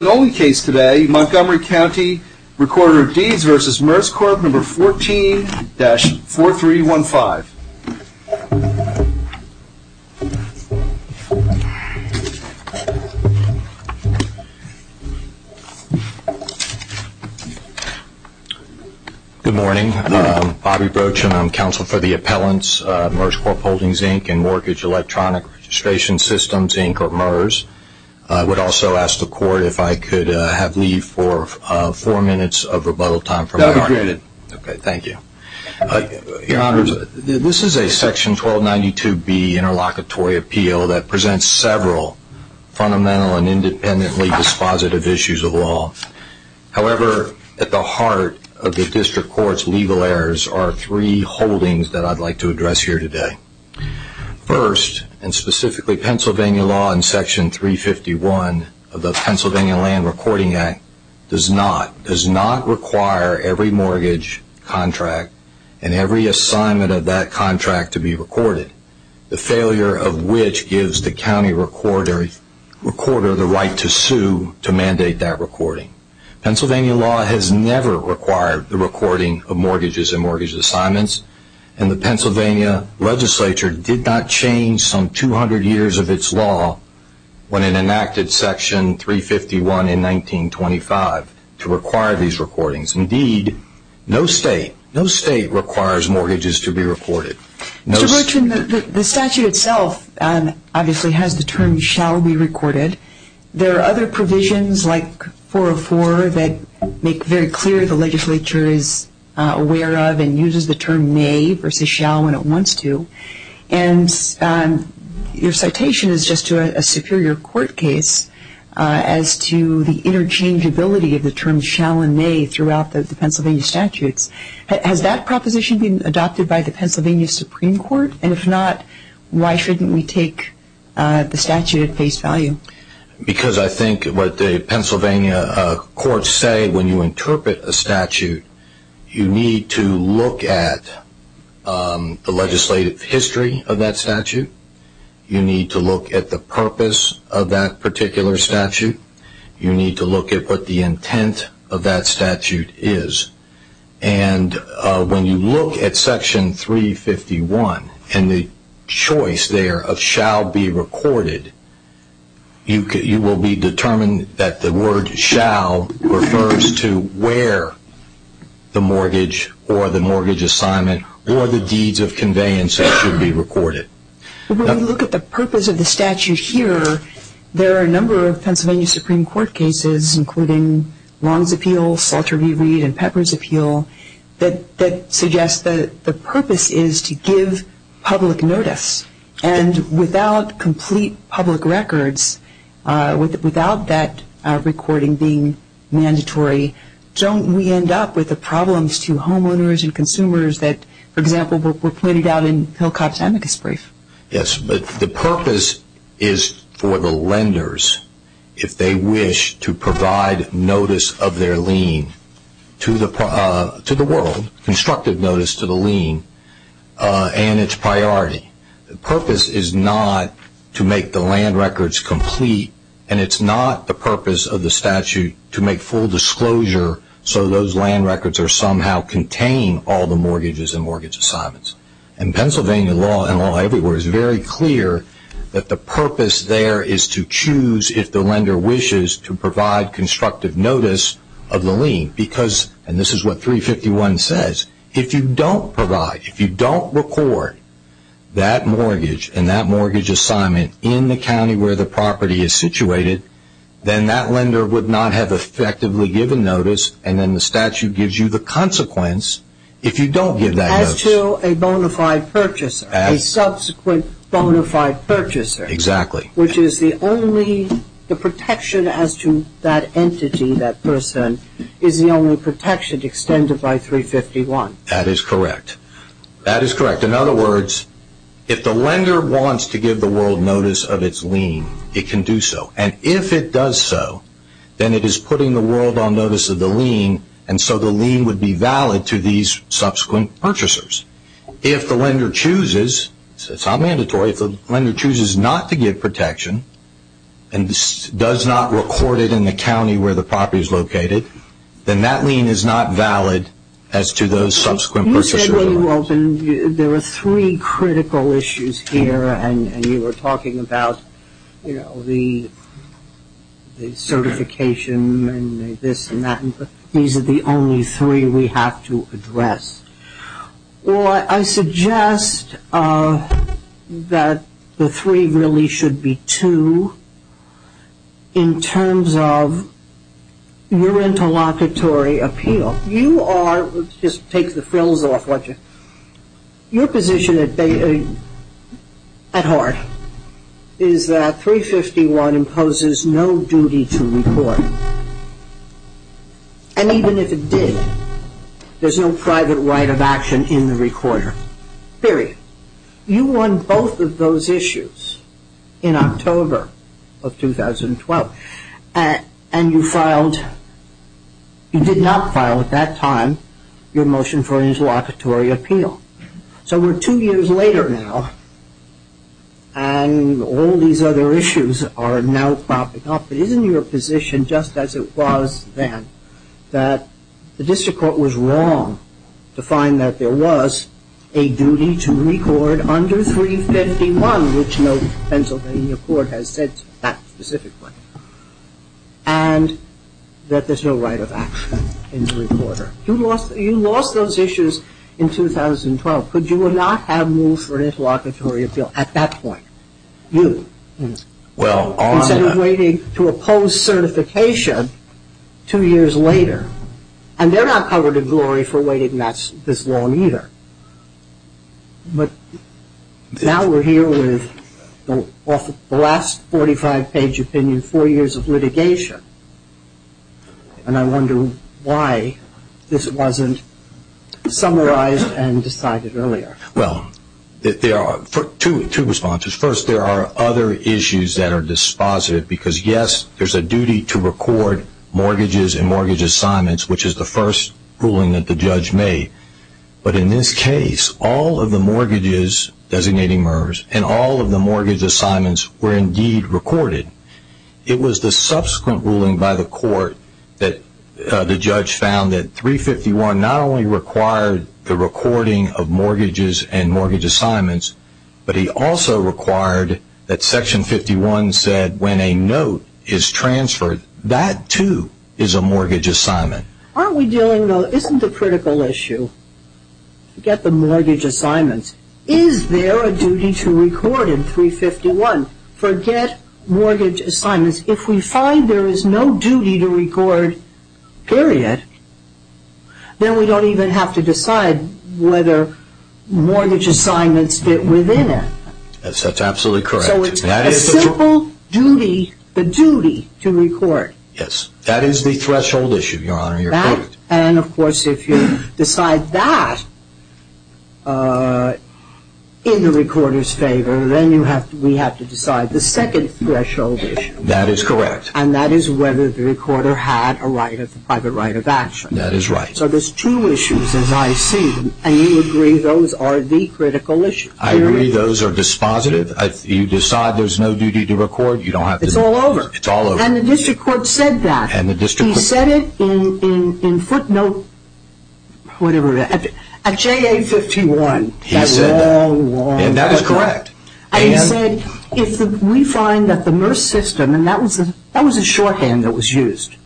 The only case today, Montgomery CountyRecorderofDeedsversusMerscorpNo.14-4315. Good morning, I'm Bobby Broach and I'm counsel for the Appellants, Merscorp Holdings Inc. and Mortgage Electronic Registration Systems Inc. or MERS. I would also ask the Court if I could have leave for four minutes of rebuttal time. That would be great. Okay, thank you. Your Honors, this is a Section 1292B Interlocutory Appeal that presents several fundamental and independently dispositive issues of law. However, at the heart of the District Court's legal errors are three holdings that I'd like to address here today. First, and specifically Pennsylvania law in Section 351 of the Pennsylvania Land Recording Act does not require every mortgage contract and every assignment of that contract to be recorded. The failure of which gives the county recorder the right to sue to mandate that recording. Pennsylvania law has never required the recording of mortgages and mortgage assignments and the Pennsylvania Legislature did not change some 200 years of its law when it enacted Section 351 in 1925 to require these recordings. Indeed, no state, no state requires mortgages to be recorded. Mr. Broach, the statute itself obviously has the term shall be recorded. There are other provisions like 404 that make very clear the legislature is aware of and uses the term may versus shall when it wants to. And your citation is just to a superior court case as to the interchangeability of the terms shall and may throughout the Pennsylvania statutes. Has that proposition been adopted by the Pennsylvania Supreme Court? And if not, why shouldn't we take the statute at face value? Because I think what the Pennsylvania courts say when you interpret a statute, you need to look at the legislative history of that statute. You need to look at the purpose of that particular statute. You need to look at what the intent of that statute is. And when you look at Section 351 and the choice there of shall be recorded, you will be determined that the word shall refers to where the mortgage or the mortgage assignment or the deeds of conveyance should be recorded. When you look at the purpose of the statute here, there are a number of Pennsylvania Supreme Court cases including Long's Appeal, Salter v. Reed, and Pepper's Appeal that suggest that the purpose is to give public notice. And without complete public records, without that recording being mandatory, don't we end up with the problems to homeowners and consumers that, for example, were pointed out in Hillcott's amicus brief? Yes, but the purpose is for the lenders, if they wish, to provide notice of their lien to the world, constructive notice to the lien, and its priority. The purpose is not to make the land records complete, and it's not the purpose of the statute to make full disclosure so those land records are somehow contained all the mortgages and mortgage assignments. And Pennsylvania law and law everywhere is very clear that the purpose there is to choose if the lender wishes to provide constructive notice of the lien. Because, and this is what 351 says, if you don't provide, if you don't record that mortgage and that mortgage assignment in the county where the property is situated, then that lender would not have effectively given notice, and then the statute gives you the consequence if you don't give that notice. As to a bona fide purchaser, a subsequent bona fide purchaser. Exactly. Which is the only, the protection as to that entity, that person, is the only protection extended by 351. That is correct. In other words, if the lender wants to give the world notice of its lien, it can do so. And if it does so, then it is putting the world on notice of the lien, and so the lien would be valid to these subsequent purchasers. If the lender chooses, it's not mandatory, if the lender chooses not to give protection and does not record it in the county where the property is located, then that lien is not valid as to those subsequent purchasers. There were three critical issues here, and you were talking about, you know, the certification and this and that. These are the only three we have to address. Well, I suggest that the three really should be two in terms of your interlocutory appeal. Let's just take the frills off. Your position at heart is that 351 imposes no duty to record. And even if it did, there's no private right of action in the recorder. Period. You won both of those issues in October of 2012, and you filed, you did not file at that time, your motion for interlocutory appeal. So we're two years later now, and all these other issues are now popping up. But isn't your position, just as it was then, that the district court was wrong to find that there was a duty to record under 351, which no Pennsylvania court has said that specifically. And that there's no right of action in the recorder. You lost those issues in 2012. Could you not have moved for an interlocutory appeal at that point? You. Instead of waiting to oppose certification two years later. And they're not covered in glory for waiting this long either. But now we're here with the last 45-page opinion, four years of litigation. And I wonder why this wasn't summarized and decided earlier. Well, there are two responses. First, there are other issues that are dispositive because, yes, there's a duty to record mortgages and mortgage assignments, which is the first ruling that the judge made. But in this case, all of the mortgages designating MERS and all of the mortgage assignments were indeed recorded. It was the subsequent ruling by the court that the judge found that 351 not only required the recording of mortgages and mortgage assignments, but he also required that Section 51 said when a note is transferred, that too is a mortgage assignment. Aren't we dealing, though, isn't the critical issue? Forget the mortgage assignments. Is there a duty to record in 351? Forget mortgage assignments. If we find there is no duty to record, period, then we don't even have to decide whether mortgage assignments fit within it. That's absolutely correct. So it's a simple duty, the duty to record. Yes. That is the threshold issue, Your Honor. You're correct. And, of course, if you decide that in the recorder's favor, then we have to decide the second threshold issue. That is correct. And that is whether the recorder had a right, a private right of action. That is right. So there's two issues, as I see, and you agree those are the critical issues. I agree those are dispositive. If you decide there's no duty to record, you don't have to. It's all over. It's all over. And the district court said that. He said it in footnote, whatever it is, at JA51. He said that. That long, long record. And that is correct. He said if we find that the MERS system, and that was a shorthand that was used,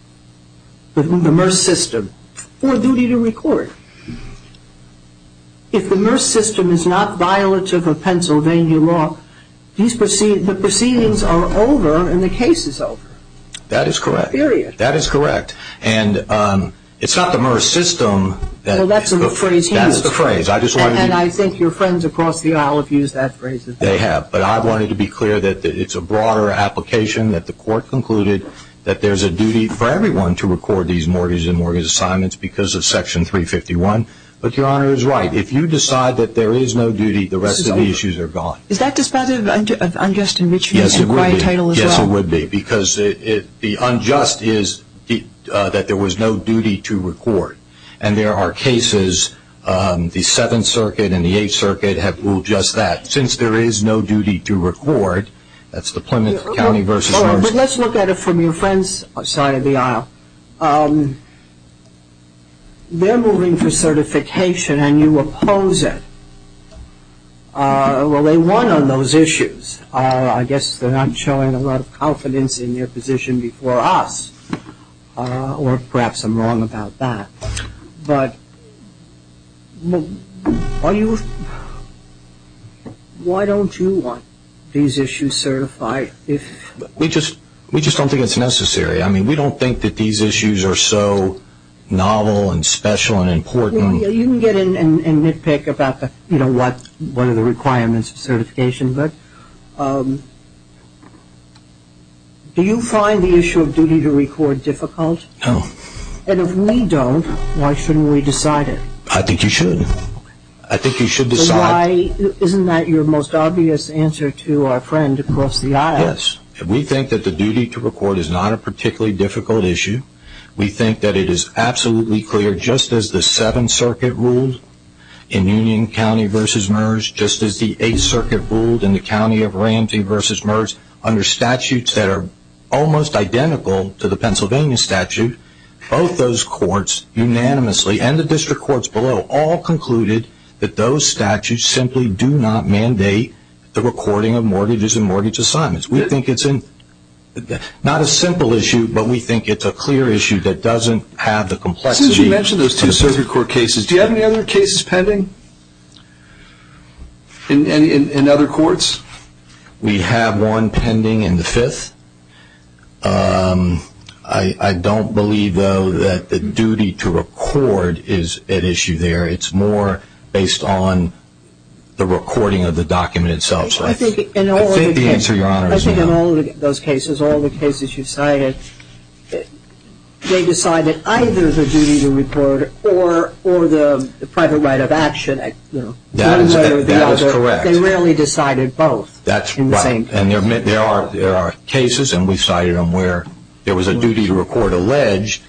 the MERS system, for duty to record. If the MERS system is not violative of Pennsylvania law, the proceedings are over and the case is over. That is correct. Period. That is correct. And it's not the MERS system. Well, that's the phrase he used. That's the phrase. And I think your friends across the aisle have used that phrase. They have. But I wanted to be clear that it's a broader application that the court concluded that there's a duty for everyone to record these mortgage and mortgage assignments because of Section 351. But Your Honor is right. If you decide that there is no duty, the rest of the issues are gone. Is that dispositive of unjust enrichment and quiet title as well? Yes, it would be. Because the unjust is that there was no duty to record. And there are cases, the Seventh Circuit and the Eighth Circuit have ruled just that. Since there is no duty to record, that's the Plymouth County versus MERS case. But let's look at it from your friend's side of the aisle. They're moving for certification and you oppose it. Well, they won on those issues. I guess they're not showing a lot of confidence in their position before us, or perhaps I'm wrong about that. But why don't you want these issues certified? We just don't think it's necessary. I mean, we don't think that these issues are so novel and special and important. You can get in and nitpick about what are the requirements of certification. But do you find the issue of duty to record difficult? No. And if we don't, why shouldn't we decide it? I think you should. I think you should decide. Isn't that your most obvious answer to our friend across the aisle? Yes. We think that the duty to record is not a particularly difficult issue. We think that it is absolutely clear, just as the Seventh Circuit ruled in Union County versus MERS, just as the Eighth Circuit ruled in the County of Ramsey versus MERS, under statutes that are almost identical to the Pennsylvania statute, both those courts unanimously and the district courts below all concluded that those statutes simply do not mandate the recording of mortgages and mortgage assignments. We think it's not a simple issue, but we think it's a clear issue that doesn't have the complexity. Since you mentioned those two circuit court cases, do you have any other cases pending in other courts? We have one pending in the Fifth. I don't believe, though, that the duty to record is at issue there. It's more based on the recording of the document itself. I think the answer, Your Honor, is no. I think in all those cases, all the cases you cited, they decided either the duty to record or the private right of action. That is correct. They rarely decided both. That's right. And there are cases, and we cited them, where there was a duty to record alleged,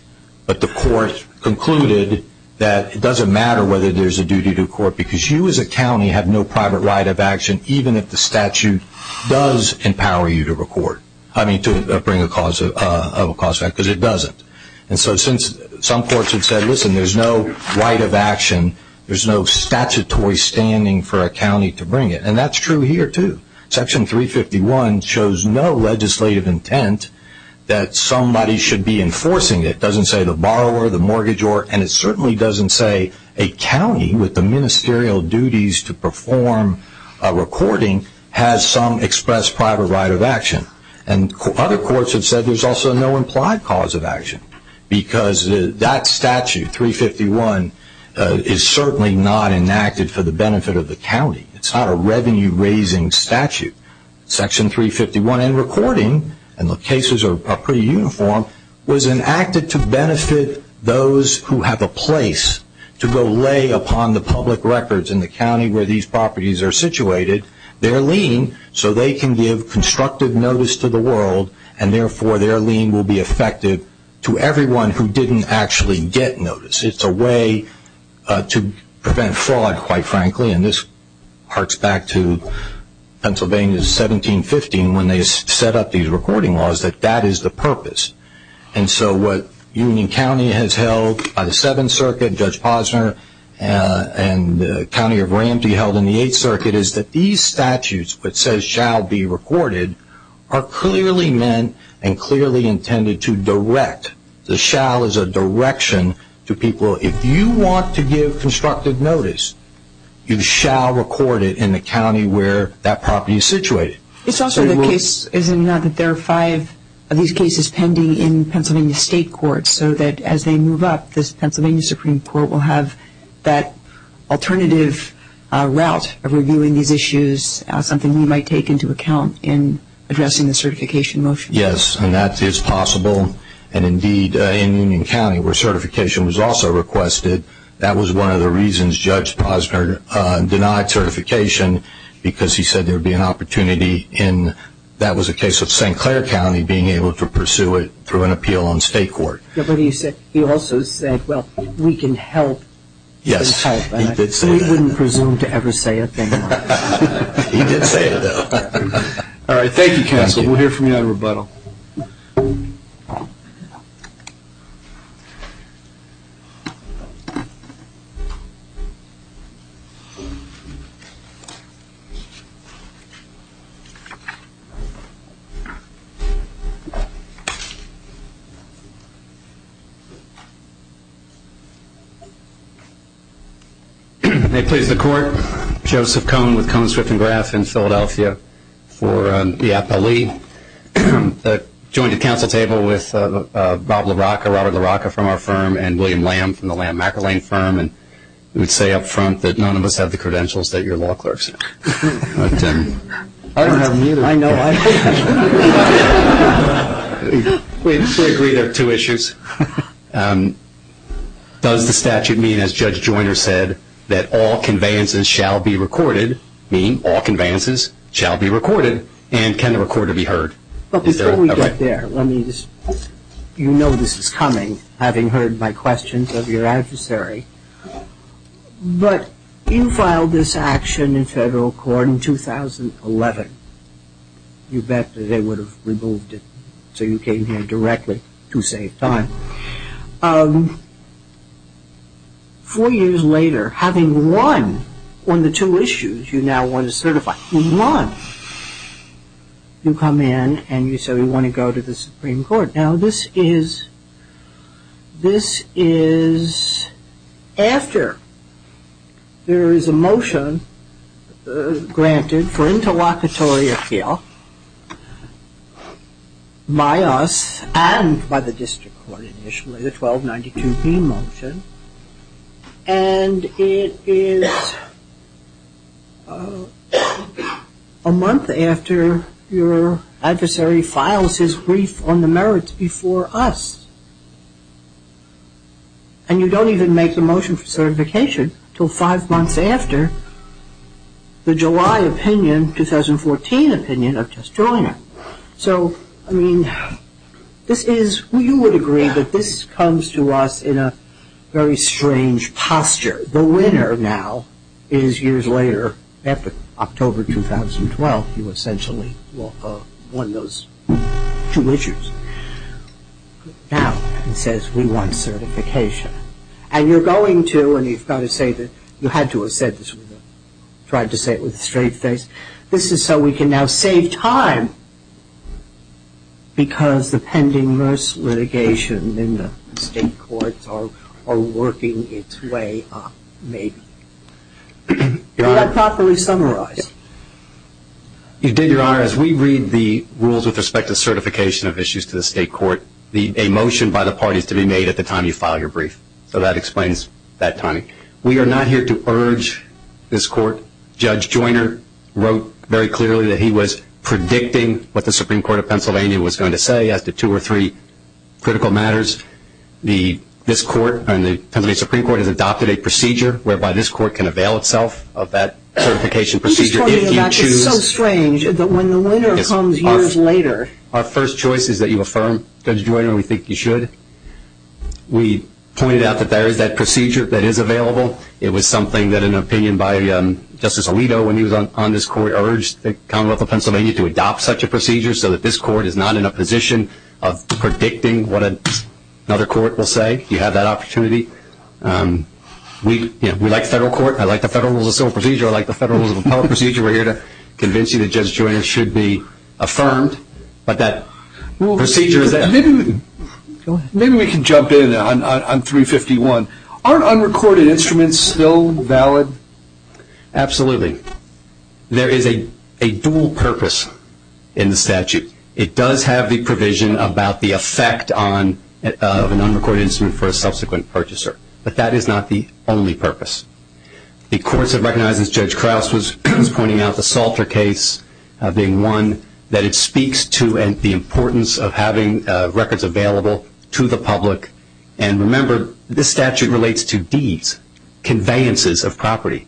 but the court concluded that it doesn't matter whether there's a duty to court because you as a county have no private right of action even if the statute does empower you to record, I mean, to bring a cause of a cause fact, because it doesn't. And so since some courts have said, listen, there's no right of action, there's no statutory standing for a county to bring it, and that's true here, too. Section 351 shows no legislative intent that somebody should be enforcing it. It doesn't say the borrower, the mortgagor, and it certainly doesn't say a county with the ministerial duties to perform a recording has some expressed private right of action. And other courts have said there's also no implied cause of action because that statute, 351, is certainly not enacted for the benefit of the county. It's not a revenue-raising statute. Section 351 in recording, and the cases are pretty uniform, was enacted to benefit those who have a place to go lay upon the public records in the county where these properties are situated their lien so they can give constructive notice to the world and therefore their lien will be effective to everyone who didn't actually get notice. It's a way to prevent fraud, quite frankly, and this harks back to Pennsylvania's 1715 when they set up these recording laws that that is the purpose. And so what Union County has held by the Seventh Circuit, Judge Posner, and the County of Ramsey held in the Eighth Circuit is that these statutes that says shall be recorded are clearly meant and clearly intended to direct. The shall is a direction to people, if you want to give constructive notice, you shall record it in the county where that property is situated. It's also the case, is it not, that there are five of these cases pending in Pennsylvania state courts so that as they move up, this Pennsylvania Supreme Court will have that alternative route of reviewing these issues, something we might take into account in addressing the certification motion. Yes, and that is possible, and indeed in Union County where certification was also requested, that was one of the reasons Judge Posner denied certification, because he said there would be an opportunity in, that was the case of St. Clair County, being able to pursue it through an appeal on state court. But he also said, well, we can help. Yes, he did say that. He wouldn't presume to ever say it. He did say it, though. All right. Thank you, counsel. We'll hear from you on rebuttal. Thank you. May it please the court, Joseph Cone with Cone, Swift & Graf in Philadelphia for IAPA-Lee. I joined the counsel table with Bob LaRocca, Robert LaRocca from our firm, and William Lamb from the Lamb-McElwain firm, and would say up front that none of us have the credentials that your law clerks have. I don't have them either. I know. We agree there are two issues. Does the statute mean, as Judge Joyner said, that all conveyances shall be recorded, and can the recorder be heard? But before we get there, let me just, you know this is coming, having heard my questions of your adversary. But you filed this action in federal court in 2011. You bet that they would have removed it, so you came here directly to save time. Four years later, having won on the two issues you now want to certify. You won. You come in and you say we want to go to the Supreme Court. Now this is after there is a motion granted for interlocutory appeal by us and by the district court initially, the 1292B motion, and it is a month after your adversary files his brief on the merits before us. And you don't even make the motion for certification until five months after the July opinion, 2014 opinion of Judge Joyner. So, I mean, this is, you would agree that this comes to us in a very strange posture. The winner now is years later, after October 2012, you essentially won those two issues. Now it says we want certification. And you're going to, and you've got to say that, you had to have said this, tried to say it with a straight face. This is so we can now save time, because the pending nurse litigation in the state courts are working its way up, maybe. Did I properly summarize? You did, Your Honor. As we read the rules with respect to certification of issues to the state court, a motion by the parties to be made at the time you file your brief. So that explains that timing. We are not here to urge this court. Judge Joyner wrote very clearly that he was predicting what the Supreme Court of Pennsylvania was going to say as to two or three critical matters. This court and the Pennsylvania Supreme Court has adopted a procedure whereby this court can avail itself of that certification procedure if you choose. I'm just wondering about this. It's so strange that when the winner comes years later. Our first choice is that you affirm, Judge Joyner, we think you should. We pointed out that there is that procedure that is available. It was something that an opinion by Justice Alito, when he was on this court, urged the Commonwealth of Pennsylvania to adopt such a procedure so that this court is not in a position of predicting what another court will say. Do you have that opportunity? We like the federal court. I like the Federal Rules of Civil Procedure. I like the Federal Rules of Appellate Procedure. We're here to convince you that Judge Joyner should be affirmed, but that procedure is there. Maybe we can jump in on 351. Aren't unrecorded instruments still valid? Absolutely. There is a dual purpose in the statute. It does have the provision about the effect of an unrecorded instrument for a subsequent purchaser, but that is not the only purpose. The courts have recognized, as Judge Krauss was pointing out, the Salter case being one that speaks to the importance of having records available to the public. Remember, this statute relates to deeds, conveyances of property.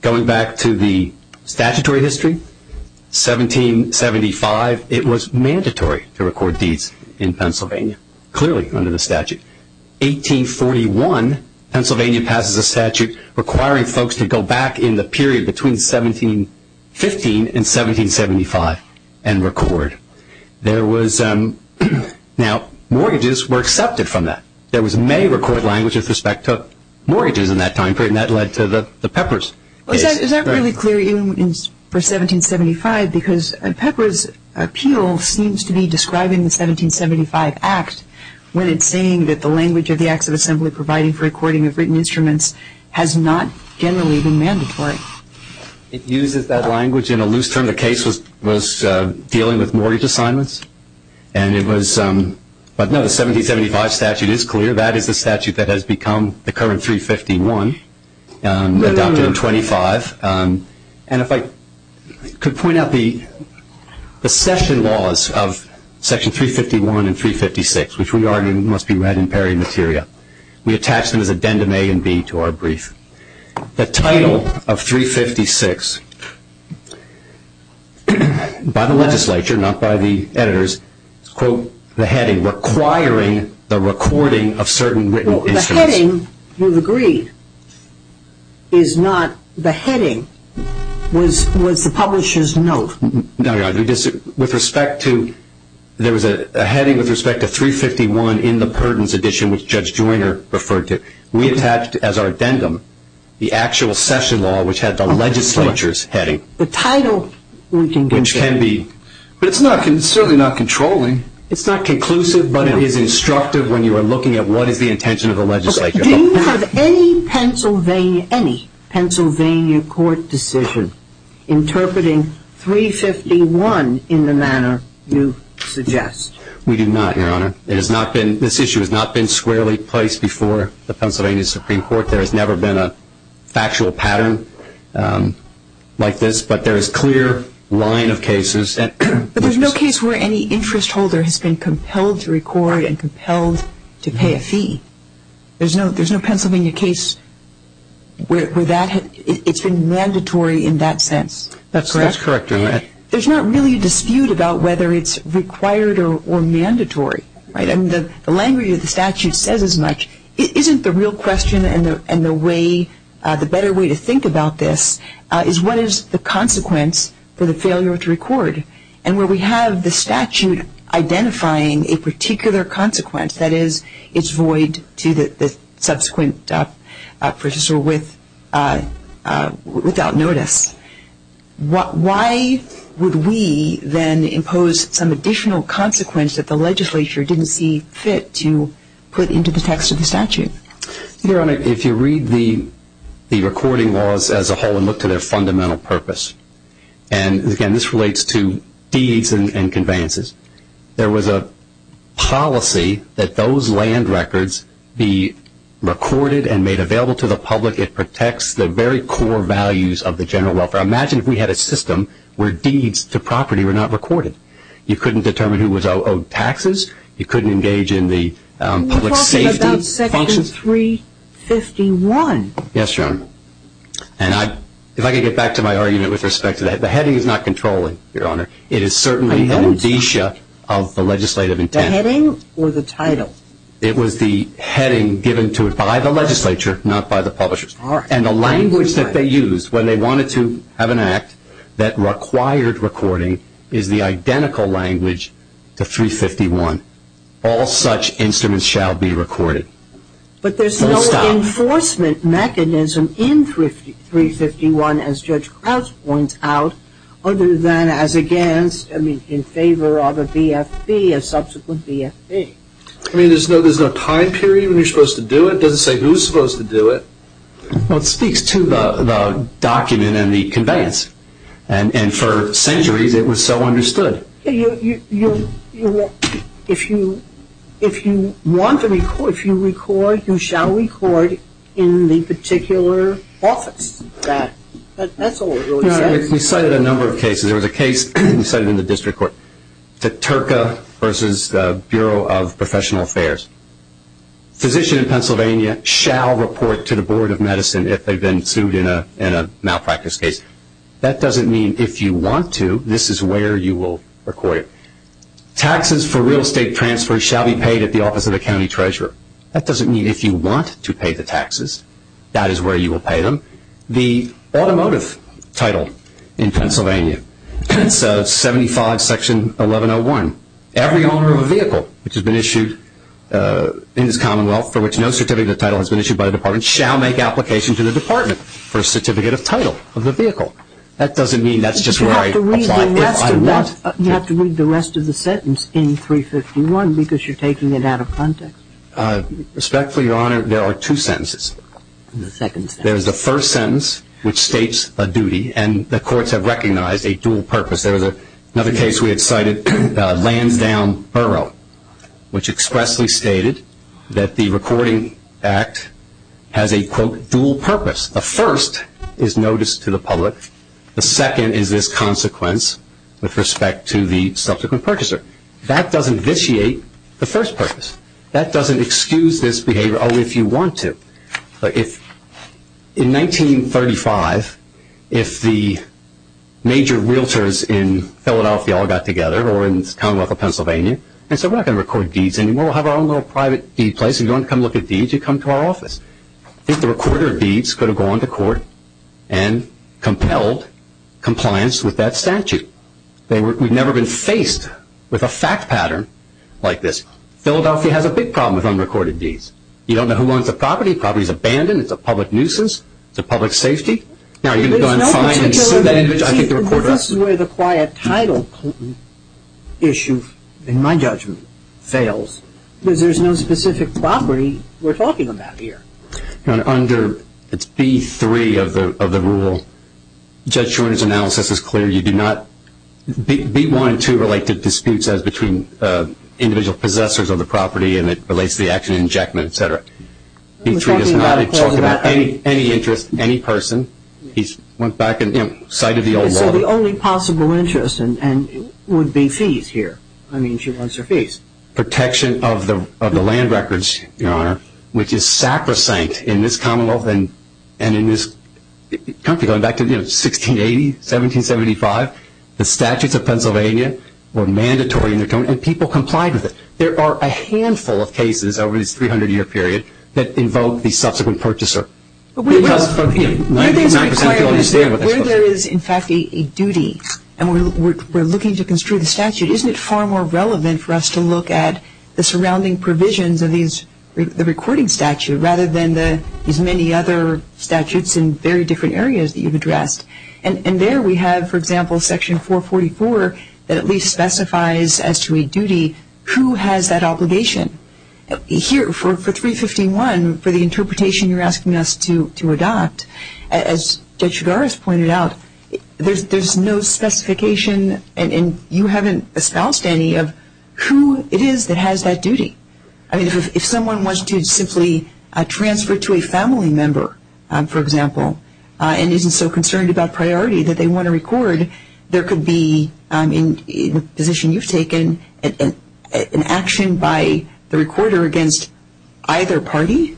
Going back to the statutory history, 1775, it was mandatory to record deeds in Pennsylvania, clearly under the statute. 1841, Pennsylvania passes a statute requiring folks to go back in the period between 1715 and 1775 and record. Now, mortgages were accepted from that. There was a May record language with respect to mortgages in that time period, and that led to the Peppers case. Is that really clear even for 1775? I'm not sure why, because Peppers' appeal seems to be describing the 1775 Act when it's saying that the language of the Acts of Assembly providing for recording of written instruments has not generally been mandatory. It uses that language in a loose term. The case was dealing with mortgage assignments, and it was – but no, the 1775 statute is clear. That is the statute that has become the current 351, adopted in 25. And if I could point out the session laws of Section 351 and 356, which we argue must be read in peri materia. We attach them as addendum A and B to our brief. The title of 356, by the legislature, not by the editors, is, quote, the heading, requiring the recording of certain written instruments. The heading, you've agreed, is not the heading. Was the publisher's note. No, Your Honor. With respect to – there was a heading with respect to 351 in the Purdon's edition, which Judge Joyner referred to. We attached as our addendum the actual session law, which had the legislature's heading. The title, we can conclude. Which can be. But it's certainly not controlling. It's not conclusive, but it is instructive when you are looking at what is the intention of the legislature. Do you have any Pennsylvania – any Pennsylvania court decision interpreting 351 in the manner you suggest? We do not, Your Honor. It has not been – this issue has not been squarely placed before the Pennsylvania Supreme Court. There has never been a factual pattern like this. But there is clear line of cases. But there's no case where any interest holder has been compelled to record and compelled to pay a fee. There's no Pennsylvania case where that – it's been mandatory in that sense. That's correct, Your Honor. There's not really a dispute about whether it's required or mandatory, right? And the language of the statute says as much. Isn't the real question and the way – the better way to think about this is what is the consequence for the failure to record? And where we have the statute identifying a particular consequence, that is, it's void to the subsequent purchaser without notice. Why would we then impose some additional consequence that the legislature didn't see fit to put into the text of the statute? Your Honor, if you read the recording laws as a whole and look to their fundamental purpose, and, again, this relates to deeds and conveyances, there was a policy that those land records be recorded and made available to the public. It protects the very core values of the general welfare. Imagine if we had a system where deeds to property were not recorded. You couldn't determine who was owed taxes. You couldn't engage in the public safety functions. Are you talking about Section 351? Yes, Your Honor. And if I can get back to my argument with respect to that, the heading is not controlling, Your Honor. It is certainly an indicia of the legislative intent. The heading or the title? It was the heading given to it by the legislature, not by the publishers. And the language that they used when they wanted to have an act that required recording is the identical language to 351. All such instruments shall be recorded. But there's no enforcement mechanism in 351, as Judge Crouch points out, other than as against, I mean, in favor of a BFB, a subsequent BFB. I mean, there's no time period when you're supposed to do it? It doesn't say who's supposed to do it. Well, it speaks to the document and the conveyance. And for centuries it was so understood. If you want to record, if you record, you shall record in the particular office. That's all it really says. We cited a number of cases. There was a case we cited in the district court, the Turka v. Bureau of Professional Affairs. Physician in Pennsylvania shall report to the Board of Medicine if they've been sued in a malpractice case. That doesn't mean if you want to, this is where you will record it. Taxes for real estate transfers shall be paid at the office of the county treasurer. That doesn't mean if you want to pay the taxes, that is where you will pay them. The automotive title in Pennsylvania, it's 75 Section 1101. Every owner of a vehicle which has been issued in this commonwealth for which no certificate of title has been issued by the department shall make application to the department for a certificate of title of the vehicle. That doesn't mean that's just where I apply if I want to. You have to read the rest of the sentence in 351 because you're taking it out of context. Respectfully, Your Honor, there are two sentences. The second sentence. There's the first sentence which states a duty, and the courts have recognized a dual purpose. There was another case we had cited, Lansdowne Borough, which expressly stated that the Recording Act has a, quote, dual purpose. The first is notice to the public. The second is this consequence with respect to the subsequent purchaser. That doesn't vitiate the first purpose. That doesn't excuse this behavior, oh, if you want to. In 1935, if the major realtors in Philadelphia all got together or in the Commonwealth of Pennsylvania and said we're not going to record deeds anymore. We'll have our own little private deed place. If you want to come look at deeds, you come to our office. I think the recorder of deeds could have gone to court and compelled compliance with that statute. We've never been faced with a fact pattern like this. Philadelphia has a big problem with unrecorded deeds. You don't know who owns the property. The property is abandoned. It's a public nuisance. It's a public safety. Now, you can go and find and sue that individual. I think the recorder of deeds. The difference is where the quiet title issue, in my judgment, fails because there's no specific property we're talking about here. Under, it's B3 of the rule, Judge Schorner's analysis is clear. It relates to the action injectment, et cetera. He's talking about any interest, any person. He's went back and cited the old law. So the only possible interest would be fees here. I mean, she wants her fees. Protection of the land records, Your Honor, which is sacrosanct in this Commonwealth and in this country. Going back to 1680, 1775, the statutes of Pennsylvania were mandatory and people complied with it. There are a handful of cases over this 300-year period that invoke the subsequent purchaser. It does, but 99% don't understand what that's supposed to mean. Where there is, in fact, a duty, and we're looking to construe the statute, isn't it far more relevant for us to look at the surrounding provisions of the recording statute rather than these many other statutes in very different areas that you've addressed? And there we have, for example, Section 444 that at least specifies as to a person who has that obligation. Here, for 351, for the interpretation you're asking us to adopt, as Judge Chigaris pointed out, there's no specification and you haven't espoused any of who it is that has that duty. I mean, if someone wants to simply transfer to a family member, for example, and isn't so concerned about priority that they want to record, there could be, in the position you've taken, an action by the recorder against either party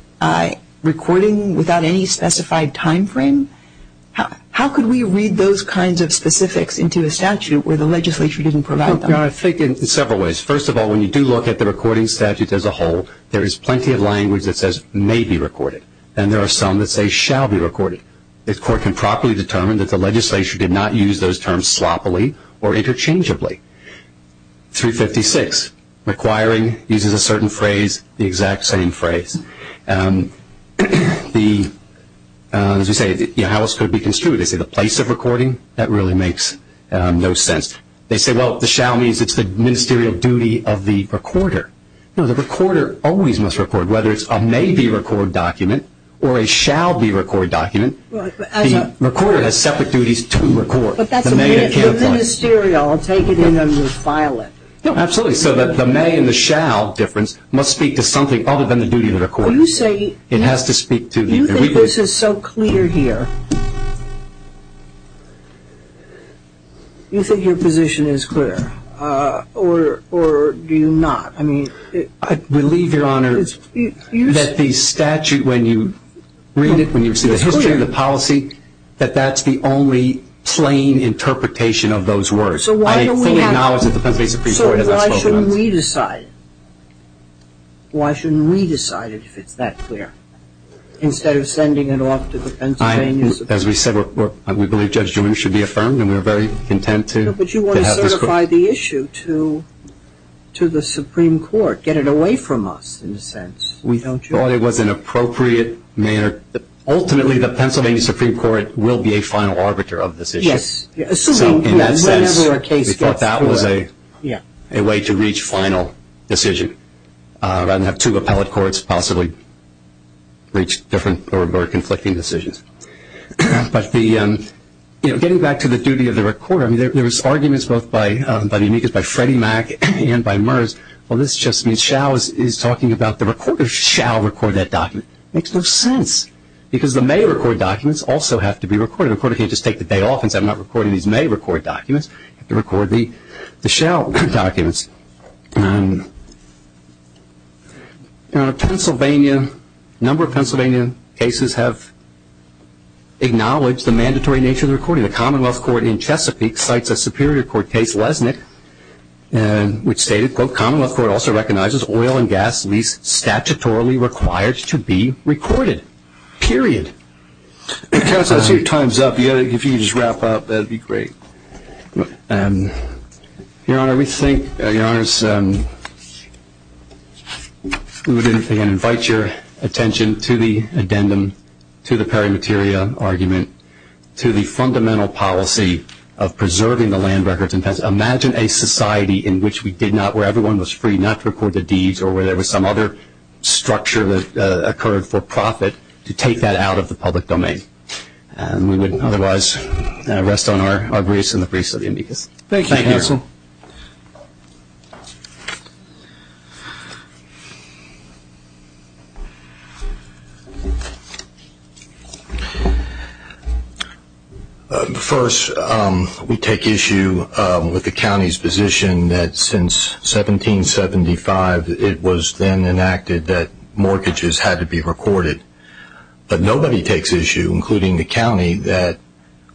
recording without any specified time frame. How could we read those kinds of specifics into a statute where the legislature didn't provide them? I think in several ways. First of all, when you do look at the recording statute as a whole, there is plenty of language that says may be recorded, and there are some that say shall be recorded. The court can properly determine that the legislature did not use those terms sloppily or interchangeably. 356, requiring uses a certain phrase, the exact same phrase. As we say, how else could it be construed? They say the place of recording, that really makes no sense. They say, well, the shall means it's the ministerial duty of the recorder. No, the recorder always must record, whether it's a may be record document or a shall be record document, the recorder has separate duties to record. But that's the ministerial. I'll take it in and you'll file it. No, absolutely. So the may and the shall difference must speak to something other than the duty of the recorder. You say you think this is so clear here. You think your position is clear, or do you not? I believe, Your Honor, that the statute, when you read it, when you see the history of the policy, that that's the only plain interpretation of those words. I fully acknowledge that the Pennsylvania Supreme Court has not spoken on this. So why shouldn't we decide? Why shouldn't we decide it if it's that clear, instead of sending it off to the Pennsylvania Supreme Court? As we said, we believe Judge Newman should be affirmed, and we're very content to have this court. We should justify the issue to the Supreme Court, get it away from us, in a sense. We thought it was an appropriate manner. Ultimately, the Pennsylvania Supreme Court will be a final arbiter of this issue. Yes. So in that sense, we thought that was a way to reach final decision, rather than have two appellate courts possibly reach different or conflicting decisions. But getting back to the duty of the recorder, there was arguments both by the amicus, by Freddie Mac and by Murs, well, this just means shall is talking about the recorder shall record that document. It makes no sense, because the may record documents also have to be recorded. A recorder can't just take the day off and say, I'm not recording these may record documents. They have to record the shall documents. A number of Pennsylvania cases have acknowledged the mandatory nature of the recording. The Commonwealth Court in Chesapeake cites a Superior Court case, Lesnick, which stated, quote, Commonwealth Court also recognizes oil and gas lease statutorily required to be recorded, period. Counsel, I see your time's up. If you could just wrap up, that would be great. Your Honor, we think, Your Honors, we would, again, invite your attention to the addendum, to the peri materia argument, to the fundamental policy of preserving the land records. Imagine a society in which we did not, where everyone was free not to record the deeds or where there was some other structure that occurred for profit to take that out of the public domain. We would, otherwise, rest on our briefs and the briefs of the amicus. Thank you, counsel. First, we take issue with the county's position that since 1775, it was then enacted that mortgages had to be recorded. But nobody takes issue, including the county, that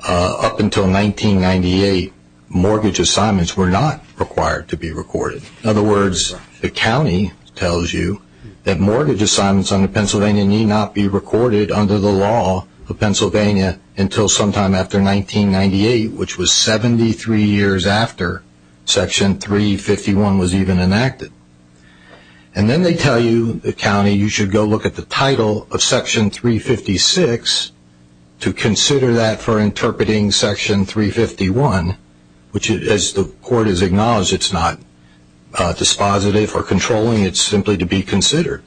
up until 1998, mortgage assignments were not required to be recorded. In other words, the county tells you that mortgage assignments under Pennsylvania need not be recorded under the law of Pennsylvania until sometime after 1998, which was 73 years after Section 351 was even enacted. And then they tell you, the county, you should go look at the title of Section 356 to consider that for interpreting Section 351, which, as the court has acknowledged, it's not dispositive or controlling. It's simply to be considered.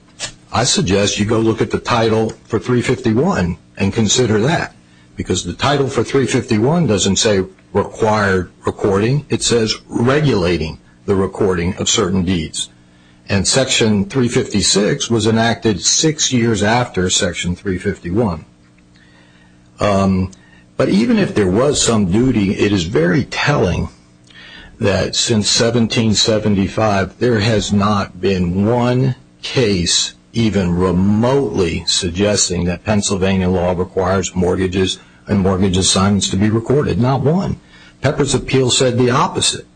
I suggest you go look at the title for 351 and consider that, because the title for 351 doesn't say required recording. It says regulating the recording of certain deeds. And Section 356 was enacted six years after Section 351. But even if there was some duty, it is very telling that since 1775, there has not been one case even remotely suggesting that Pennsylvania law requires mortgages and mortgage assignments to be recorded. Not one. Pepper's Appeal said the opposite.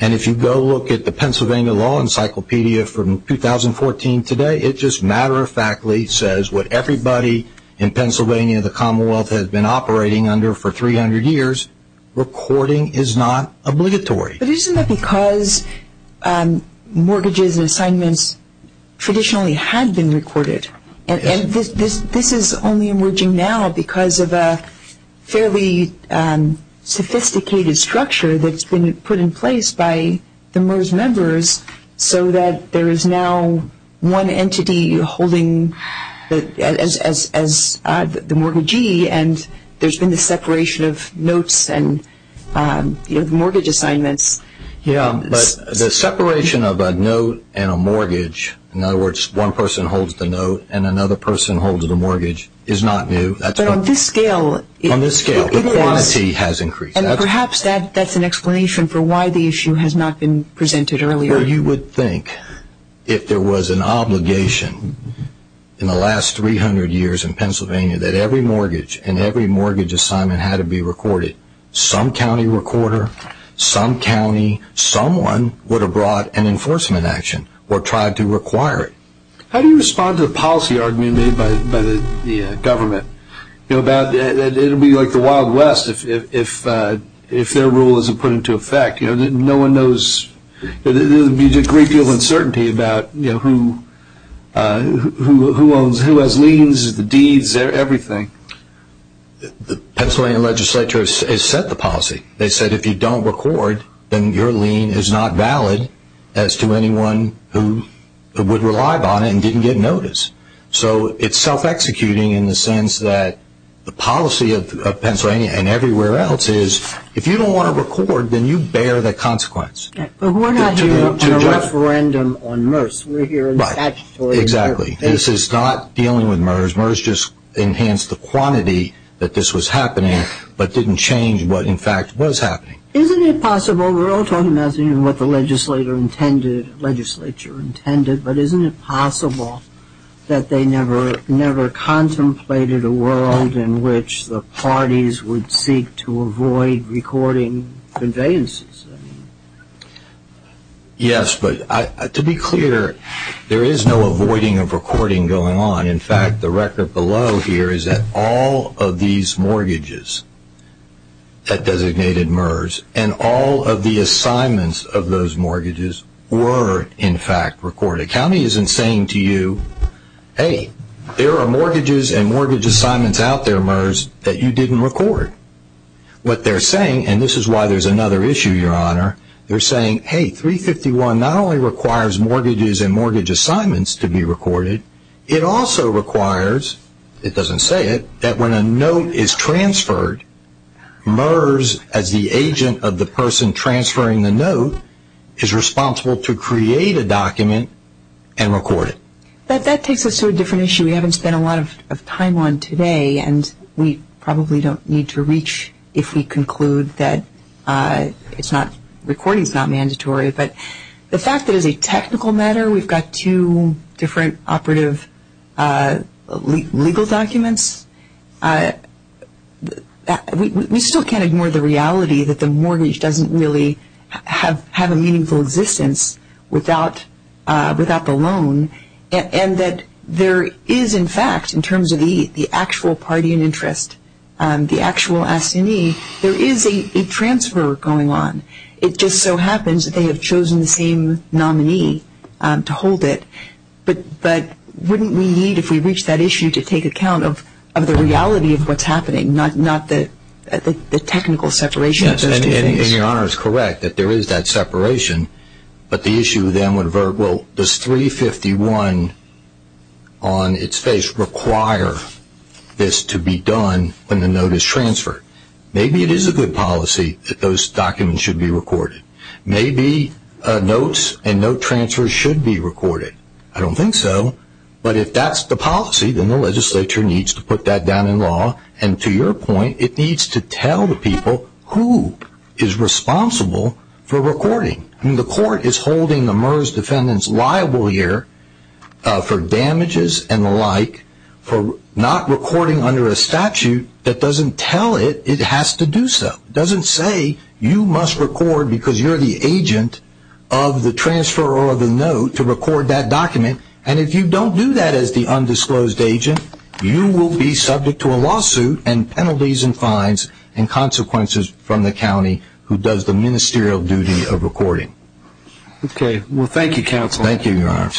And if you go look at the Pennsylvania Law Encyclopedia from 2014 today, it just matter-of-factly says what everybody in Pennsylvania, the Commonwealth has been operating under for 300 years, recording is not obligatory. But isn't that because mortgages and assignments traditionally had been recorded? And this is only emerging now because of a fairly sophisticated structure that's been put in place by the MERS members so that there is now one entity holding as the mortgagee and there's been this separation of notes and mortgage assignments. But the separation of a note and a mortgage, in other words one person holds the note and another person holds the mortgage, is not new. But on this scale. On this scale. The quantity has increased. And perhaps that's an explanation for why the issue has not been presented earlier. Well, you would think if there was an obligation in the last 300 years in Pennsylvania that every mortgage and every mortgage assignment had to be recorded, some county recorder, some county, someone would have brought an enforcement action or tried to require it. How do you respond to the policy argument made by the government? It would be like the Wild West if their rule isn't put into effect. No one knows. There would be a great deal of uncertainty about who owns, who has liens, the deeds, everything. The Pennsylvania legislature has set the policy. They said if you don't record, then your lien is not valid as to anyone who would rely upon it and didn't get notice. So it's self-executing in the sense that the policy of Pennsylvania and everywhere else is if you don't want to record, then you bear the consequence. But we're not hearing a referendum on MERS. We're hearing statutory MERS. Exactly. This is not dealing with MERS. MERS just enhanced the quantity that this was happening but didn't change what, in fact, was happening. Isn't it possible, we're all talking about what the legislature intended, but isn't it possible that they never contemplated a world in which the parties would seek to avoid recording conveyances? Yes, but to be clear, there is no avoiding of recording going on. In fact, the record below here is that all of these mortgages that designated MERS and all of the assignments of those mortgages were, in fact, recorded. The county isn't saying to you, hey, there are mortgages and mortgage assignments out there, MERS, that you didn't record. What they're saying, and this is why there's another issue, Your Honor, they're saying, hey, 351 not only requires mortgages and mortgage assignments to be recorded, it also requires, it doesn't say it, that when a note is transferred, MERS, as the agent of the person transferring the note, is responsible to create a document and record it. That takes us to a different issue we haven't spent a lot of time on today, and we probably don't need to reach if we conclude that recording is not mandatory. But the fact that as a technical matter we've got two different operative legal documents, we still can't ignore the reality that the mortgage doesn't really have a meaningful existence without the loan, and that there is, in fact, in terms of the actual party in interest, the actual S&E, there is a transfer going on. It just so happens that they have chosen the same nominee to hold it. But wouldn't we need, if we reach that issue, to take account of the reality of what's happening, not the technical separation of those two things? Yes, and Your Honor is correct that there is that separation. But the issue then would, well, does 351 on its face require this to be done when the note is transferred? Maybe it is a good policy that those documents should be recorded. Maybe notes and note transfers should be recorded. I don't think so. But if that's the policy, then the legislature needs to put that down in law, and to your point, it needs to tell the people who is responsible for recording. The court is holding the MERS defendants liable here for damages and the like for not recording under a statute that doesn't tell it it has to do so. It doesn't say you must record because you're the agent of the transfer or the note to record that document. And if you don't do that as the undisclosed agent, you will be subject to a lawsuit and penalties and fines and consequences from the county who does the ministerial duty of recording. Okay. Well, thank you, counsel. Thank you, Your Honor.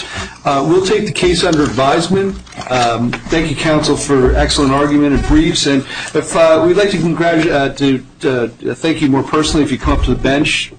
We'll take the case under advisement. Thank you, counsel, for excellent argument and briefs. And we'd like to thank you more personally if you come up to the bench.